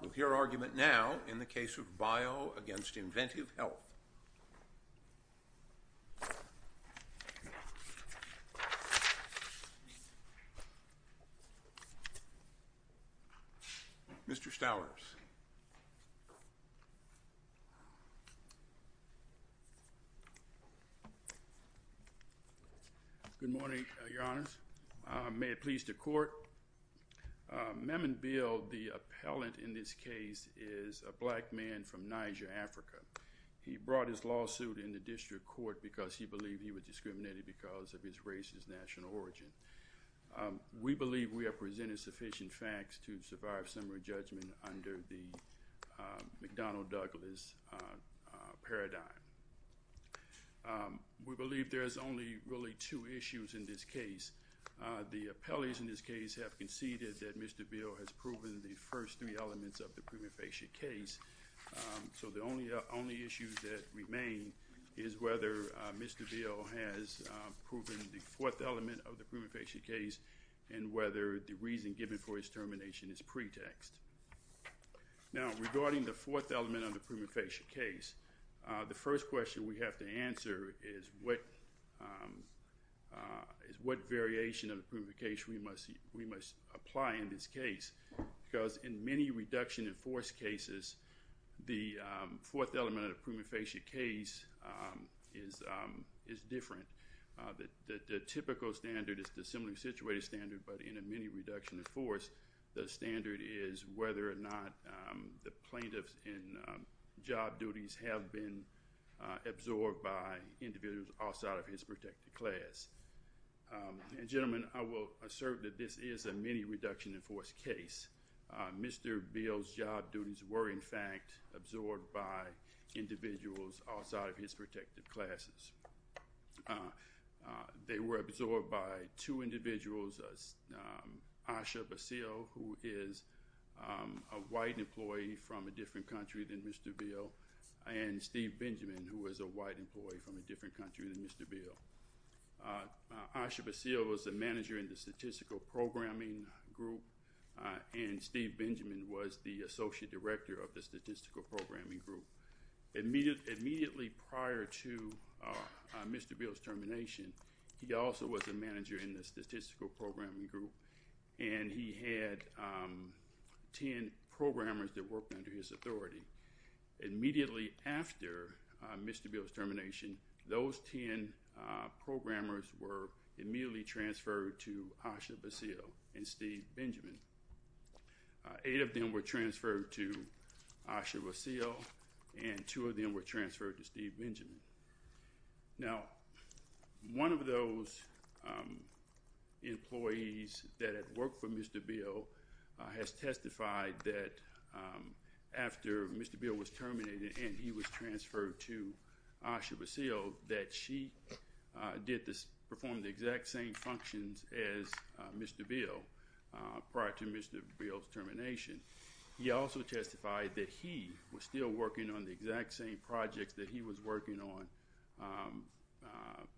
We'll hear argument now in the case of Bio v. Inventiv Health. Mr. Stowers. Good morning, Your Honors. May it please the Court, Maman Bio, the appellant in this case, is a black man from Niger, Africa. He brought his lawsuit in the district court because he believed he was discriminated because of his race and national origin. We believe we have presented sufficient facts to survive summary judgment under the McDonnell-Douglas paradigm. We believe there is only really two issues in this case. The appellees in this case have conceded that Mr. Bio has proven the first three elements of the prima facie case. So the only issue that remains is whether Mr. Bio has proven the fourth element of the prima facie case and whether the reason given for his termination is pretext. Now regarding the fourth element of the prima facie case, the first question we have to answer is what variation of the prima facie case we must apply in this case because in many reduction in force cases, the fourth element of the prima facie case is different. The typical standard is the similarly situated standard, but in a mini reduction in force, the standard is whether or not the plaintiffs in job duties have been absorbed by individuals outside of his protected class. And gentlemen, I will assert that this is a mini reduction in force case. Mr. Bio's job duties were in fact absorbed by individuals outside of his protected classes. They were absorbed by two individuals, Asha Basile, who is a white employee from a different country than Mr. Bio, and Steve Benjamin, who is a white employee from a different country than Mr. Bio. Asha Basile was a manager in the statistical programming group, and Steve Benjamin was the associate director of the statistical programming group. Immediately prior to Mr. Bio's termination, he also was a manager in the statistical programming group, and he had 10 programmers that worked under his authority. Immediately after Mr. Bio's termination, those 10 programmers were immediately transferred to Asha Basile and Steve Benjamin. Eight of them were transferred to Asha Basile, and two of them were transferred to Steve Benjamin. Now, one of those employees that had worked for Mr. Bio has testified that after Mr. Bio was terminated and he was transferred to Asha Basile, that she performed the exact same functions as Mr. Bio prior to Mr. Bio's termination. He also testified that he was still working on the exact same projects that he was working on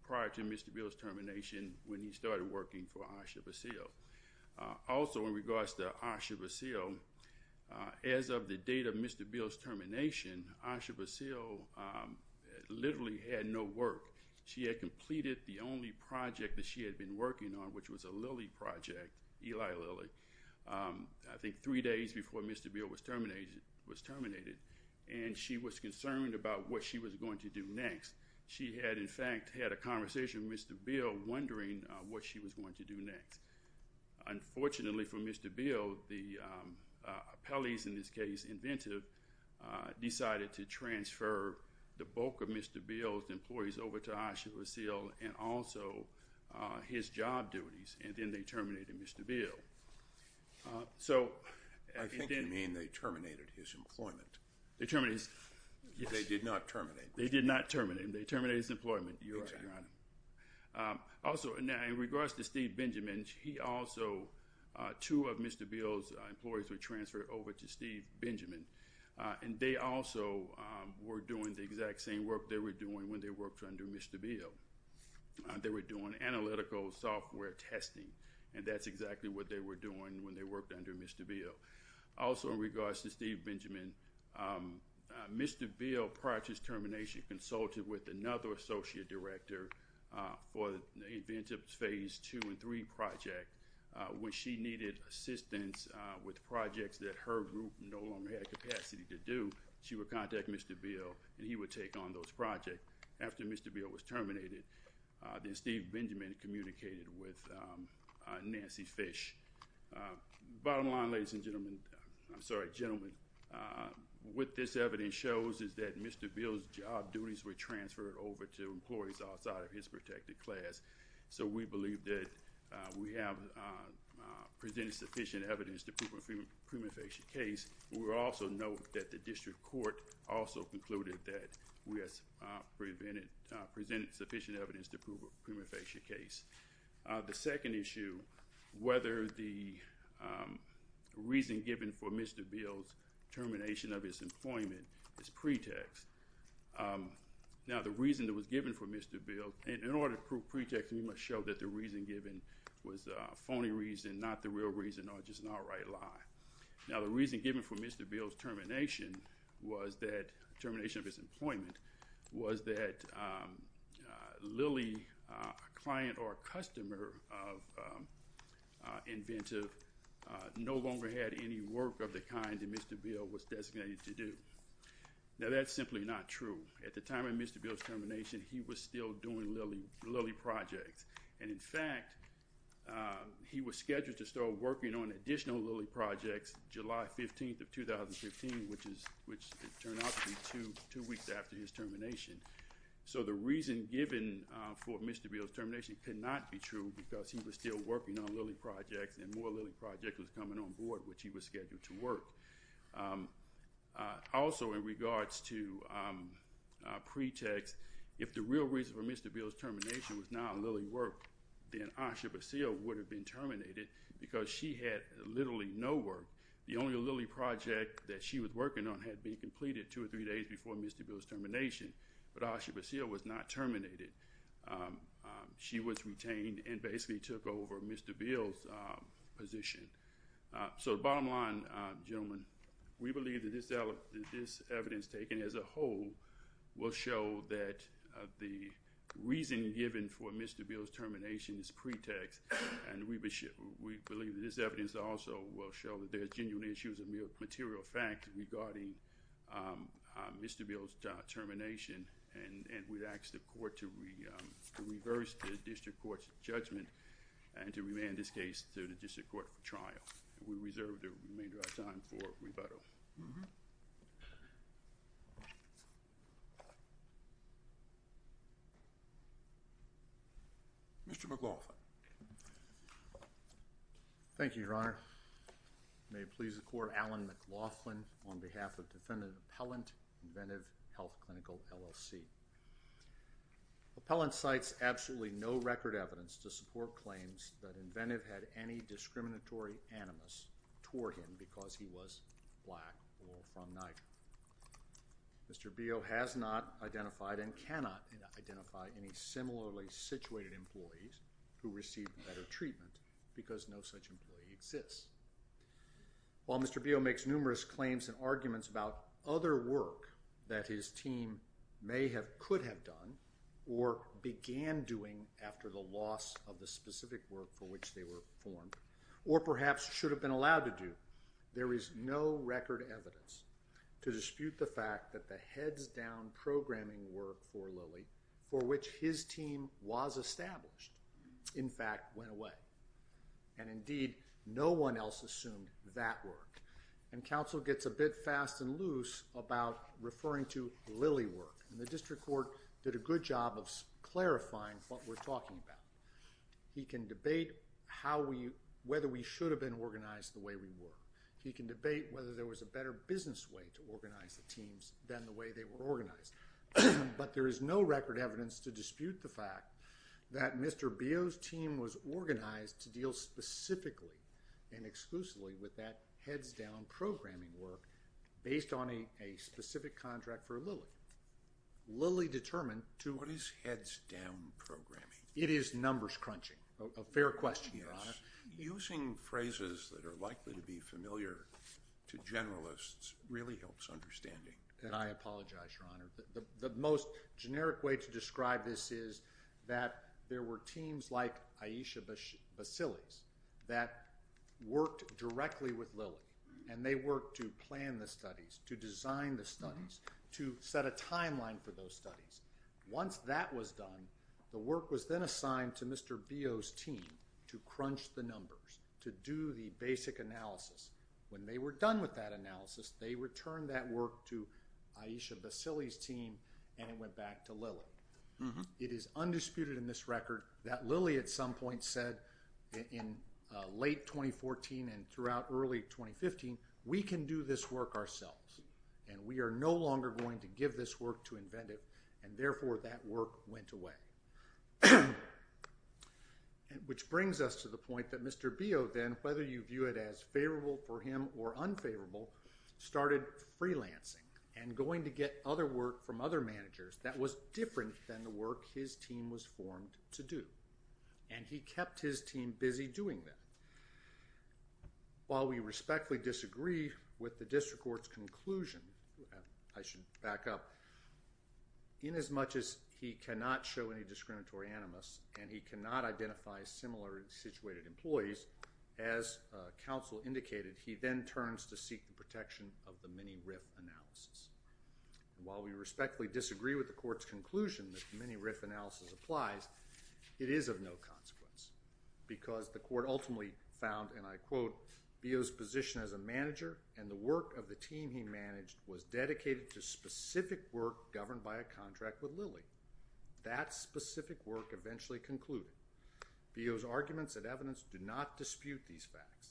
prior to Mr. Bio's termination when he started working for Asha Basile. Also, in regards to Asha Basile, as of the date of Mr. Bio's termination, Asha Basile literally had no work. She had completed the only project that she had been working on, which was a Lilly project, Eli Lilly, I think three days before Mr. Bio was terminated, and she was concerned about what she was going to do next. She had, in fact, had a conversation with Mr. Bio wondering what she was going to do next. Unfortunately for Mr. Bio, the appellees, in this case Inventive, decided to transfer the bulk of Mr. Bio's employees over to Asha Basile and also his job duties, and then they terminated Mr. Bio. I think you mean they terminated his employment. They did not terminate him. They did not terminate him. They terminated his employment, Your Honor. Also, now, in regards to Steve Benjamin, he also, two of Mr. Bio's employees were transferred over to Steve Benjamin, and they also were doing the exact same work they were doing when they worked under Mr. Bio. They were doing analytical software testing, and that's exactly what they were doing when they worked under Mr. Bio. Also, in regards to Steve Benjamin, Mr. Bio, prior to his termination, consulted with another associate director for the Inventive's Phase 2 and 3 project. When she needed assistance with projects that her group no longer had capacity to do, she would contact Mr. Bio, and he would take on those projects. After Mr. Bio was terminated, then Steve Benjamin communicated with Nancy Fish. Bottom line, ladies and gentlemen, I'm sorry, gentlemen, what this evidence shows is that Mr. Bio's job duties were transferred over to employees outside of his protected class, so we believe that we have presented sufficient evidence to prove a pre-manifestation case. We also note that the district court also concluded that we have presented sufficient evidence to prove a pre-manifestation case. The second issue, whether the reason given for Mr. Bio's termination of his employment is pretext. Now, the reason that was given for Mr. Bio, in order to prove pretext, we must show that the reason given was a phony reason, not the real reason, or just an outright lie. Now, the reason given for Mr. Bio's termination was that, termination of his employment, was that Lilly, a client or a customer of Inventive, no longer had any work of the kind that Mr. Bio was designated to do. Now, that's simply not true. At the time of Mr. Bio's termination, he was still doing Lilly projects, and in fact, he was scheduled to start working on additional Lilly projects July 15th of 2015, which turned out to be two weeks after his termination. So, the reason given for Mr. Bio's termination could not be true, because he was still working on Lilly projects, and more Lilly projects was coming on board, which he was scheduled to work. Also, in regards to pretext, if the real reason for Mr. Bio's termination was not Lilly work, then Asha Basile would have been terminated, because she had literally no work. The only Lilly project that she was working on had been completed two or three days before Mr. Bio's termination, but Asha Basile was not terminated. She was retained and basically took over Mr. Bio's position. So, the bottom line, gentlemen, we believe that this evidence taken as a whole will show that the reason given for Mr. Bio's termination is pretext, and we believe that this evidence also will show that there are genuine issues of material fact regarding Mr. Bio's termination, and we'd ask the court to reverse the district court's judgment and to remand this case to the district court for trial. We reserve the remainder of our time for rebuttal. Mr. McLaughlin. Thank you, Your Honor. May it please the court, Alan McLaughlin on behalf of defendant appellant, Inventive Health Clinical, LLC. Appellant cites absolutely no record evidence to support claims that Inventive had any discriminatory animus toward him because he was black or from Niger. Mr. Bio has not identified and cannot identify any similarly situated employees who received better treatment because no such employee exists. While Mr. Bio makes numerous claims and arguments about other work that his team may have, could have done, or began doing after the loss of the specific work for which they were formed, or perhaps should have been allowed to do, there is no record evidence to dispute the fact that the heads-down programming work for Lilly for which his team was established, in fact, went away. And indeed, no one else assumed that work. And counsel gets a bit fast and loose about referring to Lilly work. And the district court did a good job of clarifying what we're talking about. He can debate whether we should have been organized the way we were. He can debate whether there was a better business way to organize the teams than the way they were organized. But there is no record evidence to dispute the fact that Mr. Bio's team was organized to deal specifically and exclusively with that heads-down programming work based on a specific contract for Lilly. Lilly determined to… What is heads-down programming? It is numbers crunching. A fair question, Your Honor. Yes. Using phrases that are likely to be familiar to generalists really helps understanding. And I apologize, Your Honor. The most generic way to describe this is that there were teams like Aisha Basile's that worked directly with Lilly. And they worked to plan the studies, to design the studies, to set a timeline for those studies. Once that was done, the work was then assigned to Mr. Bio's team to crunch the numbers, to do the basic analysis. When they were done with that analysis, they returned that work to Aisha Basile's team, and it went back to Lilly. It is undisputed in this record that Lilly at some point said in late 2014 and throughout early 2015, we can do this work ourselves, and we are no longer going to give this work to inventive, and therefore that work went away. Which brings us to the point that Mr. Bio then, whether you view it as favorable for him or unfavorable, started freelancing and going to get other work from other managers that was different than the work his team was formed to do. And he kept his team busy doing that. While we respectfully disagree with the district court's conclusion, I should back up, inasmuch as he cannot show any discriminatory animus and he cannot identify similar situated employees, as counsel indicated, he then turns to seek the protection of the mini-RIF analysis. And while we respectfully disagree with the court's conclusion that the mini-RIF analysis applies, it is of no consequence, because the court ultimately found, and I quote, Bio's position as a manager and the work of the team he managed was dedicated to specific work governed by a contract with Lilly. That specific work eventually concluded. Bio's arguments and evidence do not dispute these facts.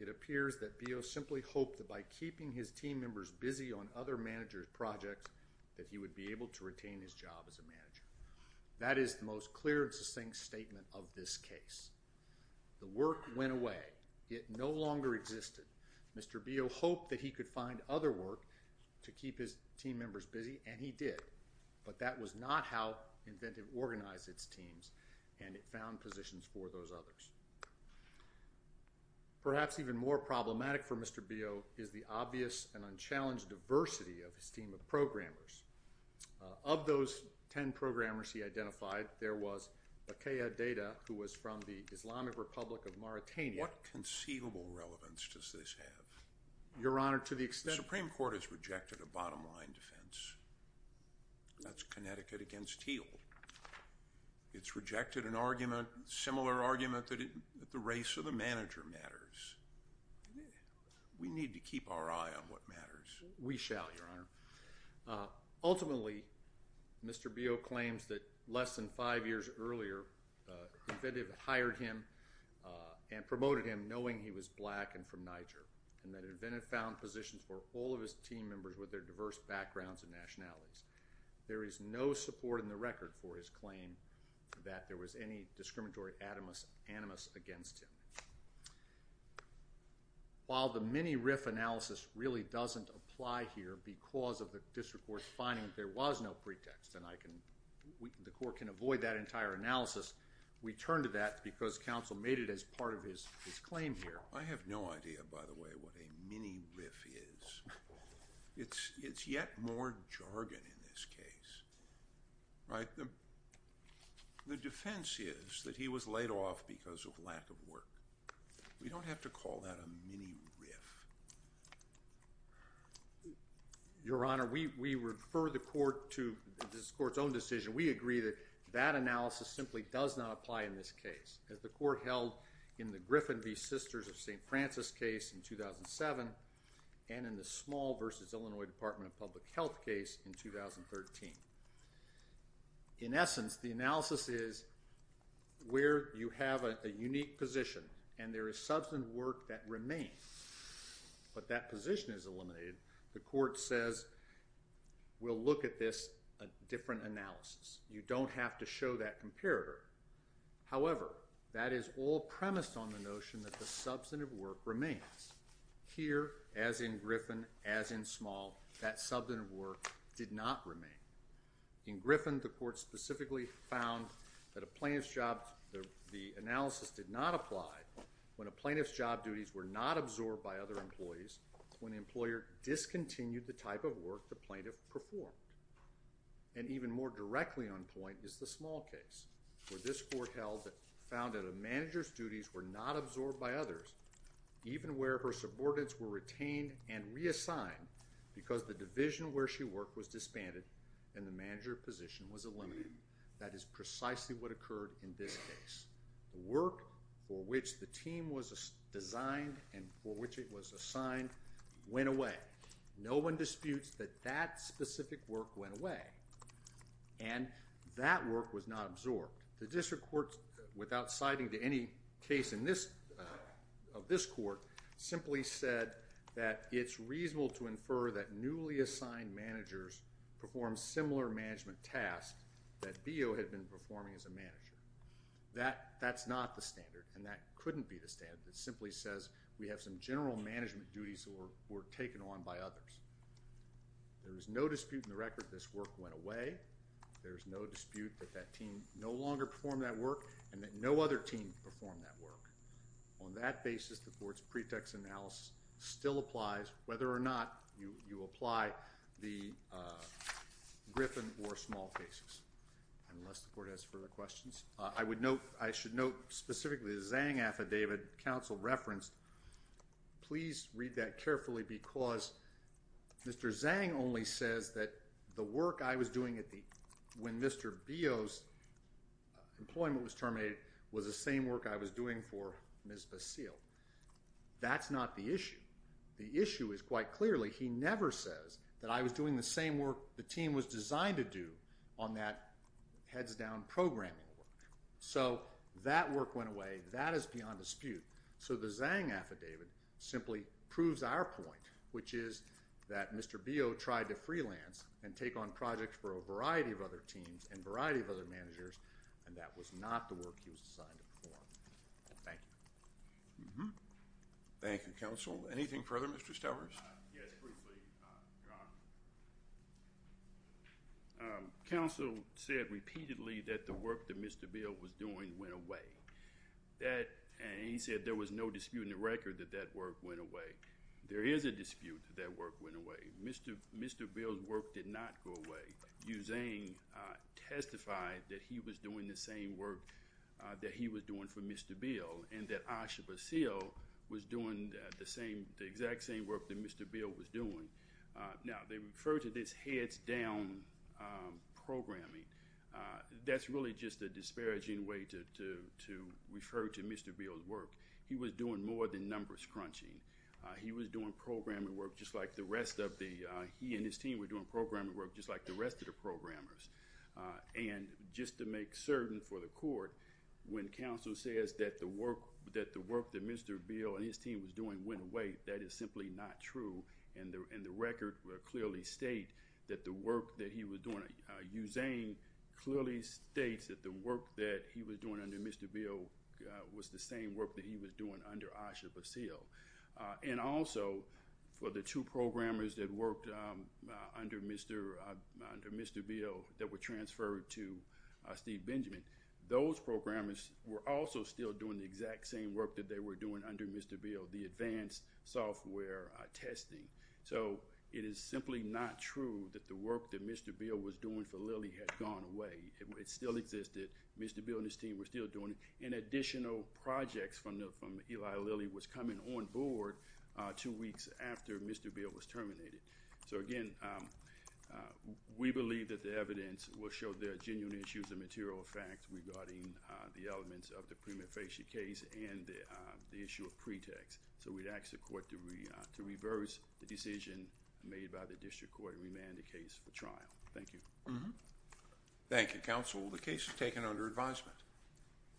It appears that Bio simply hoped that by keeping his team members busy on other managers' projects, that he would be able to retain his job as a manager. That is the most clear and succinct statement of this case. The work went away. It no longer existed. Mr. Bio hoped that he could find other work to keep his team members busy, and he did. But that was not how Inventive organized its teams, and it found positions for those others. Perhaps even more problematic for Mr. Bio is the obvious and unchallenged diversity of his team of programmers. Of those ten programmers he identified, there was Akaya Data, who was from the Islamic Republic of Mauritania. What conceivable relevance does this have? Your Honor, to the extent that The Supreme Court has rejected a bottom line defense. That's Connecticut against Heald. It's rejected an argument, similar argument, that the race of the manager matters. We need to keep our eye on what matters. We shall, Your Honor. Ultimately, Mr. Bio claims that less than five years earlier, Inventive hired him and promoted him, knowing he was black and from Niger, and that Inventive found positions for all of his team members with their diverse backgrounds and nationalities. There is no support in the record for his claim that there was any discriminatory animus against him. While the mini-RIF analysis really doesn't apply here, because of the district court's finding that there was no pretext, and the court can avoid that entire analysis, we turn to that because counsel made it as part of his claim here. I have no idea, by the way, what a mini-RIF is. It's yet more jargon in this case. The defense is that he was laid off because of lack of work. We don't have to call that a mini-RIF. Your Honor, we refer the court to this court's own decision. We agree that that analysis simply does not apply in this case. As the court held in the Griffin v. Sisters of St. Francis case in 2007, and in the Small v. Illinois Department of Public Health case in 2013. In essence, the analysis is where you have a unique position, and there is substantive work that remains, but that position is eliminated. The court says, we'll look at this, a different analysis. You don't have to show that comparator. However, that is all premised on the notion that the substantive work remains. Here, as in Griffin, as in Small, that substantive work did not remain. In Griffin, the court specifically found that the analysis did not apply when a plaintiff's job duties were not absorbed by other employees, when the employer discontinued the type of work the plaintiff performed. And even more directly on point is the Small case, where this court found that a manager's duties were not absorbed by others, even where her subordinates were retained and reassigned because the division where she worked was disbanded and the manager position was eliminated. That is precisely what occurred in this case. The work for which the team was designed and for which it was assigned went away. No one disputes that that specific work went away, and that work was not absorbed. The district court, without citing to any case of this court, simply said that it's reasonable to infer that newly assigned managers perform similar management tasks that BO had been performing as a manager. That's not the standard, and that couldn't be the standard. It simply says we have some general management duties that were taken on by others. There is no dispute in the record that this work went away. There is no dispute that that team no longer performed that work and that no other team performed that work. On that basis, the court's pretext analysis still applies, whether or not you apply the Griffin or Small cases, unless the court has further questions. I should note specifically the Zhang affidavit counsel referenced. Please read that carefully because Mr. Zhang only says that the work I was doing when Mr. BO's employment was terminated was the same work I was doing for Ms. Basile. That's not the issue. The issue is quite clearly he never says that I was doing the same work the team was designed to do on that heads-down programming work. So that work went away. That is beyond dispute. So the Zhang affidavit simply proves our point, which is that Mr. BO tried to freelance and take on projects for a variety of other teams and a variety of other managers, and that was not the work he was assigned to perform. Thank you. Thank you, counsel. Anything further, Mr. Stowers? Yes, briefly, Your Honor. Counsel said repeatedly that the work that Mr. BO was doing went away. He said there was no dispute in the record that that work went away. There is a dispute that that work went away. Mr. BO's work did not go away. Yu Zhang testified that he was doing the same work that he was doing for Mr. BO and that Asha Basile was doing the exact same work that Mr. BO was doing. Now, they refer to this heads-down programming. That's really just a disparaging way to refer to Mr. BO's work. He was doing more than numbers crunching. He was doing programming work just like the rest of the He and his team were doing programming work just like the rest of the programmers. And just to make certain for the court, when counsel says that the work that Mr. BO and his team was doing went away, that is simply not true, and the record will clearly state that the work that he was doing Yu Zhang clearly states that the work that he was doing under Mr. BO was the same work that he was doing under Asha Basile. And also, for the two programmers that worked under Mr. BO that were transferred to Steve Benjamin, those programmers were also still doing the exact same work that they were doing under Mr. BO, the advanced software testing. So it is simply not true that the work that Mr. BO was doing for Lilly had gone away. It still existed. Mr. BO and his team were still doing it. And additional projects from Eli Lilly was coming on board two weeks after Mr. BO was terminated. So again, we believe that the evidence will show there are genuine issues and material facts regarding the elements of the prima facie case and the issue of pretext. So we'd ask the court to reverse the decision made by the district court and remand the case for trial. Thank you. Thank you, counsel. The case is taken under advisement.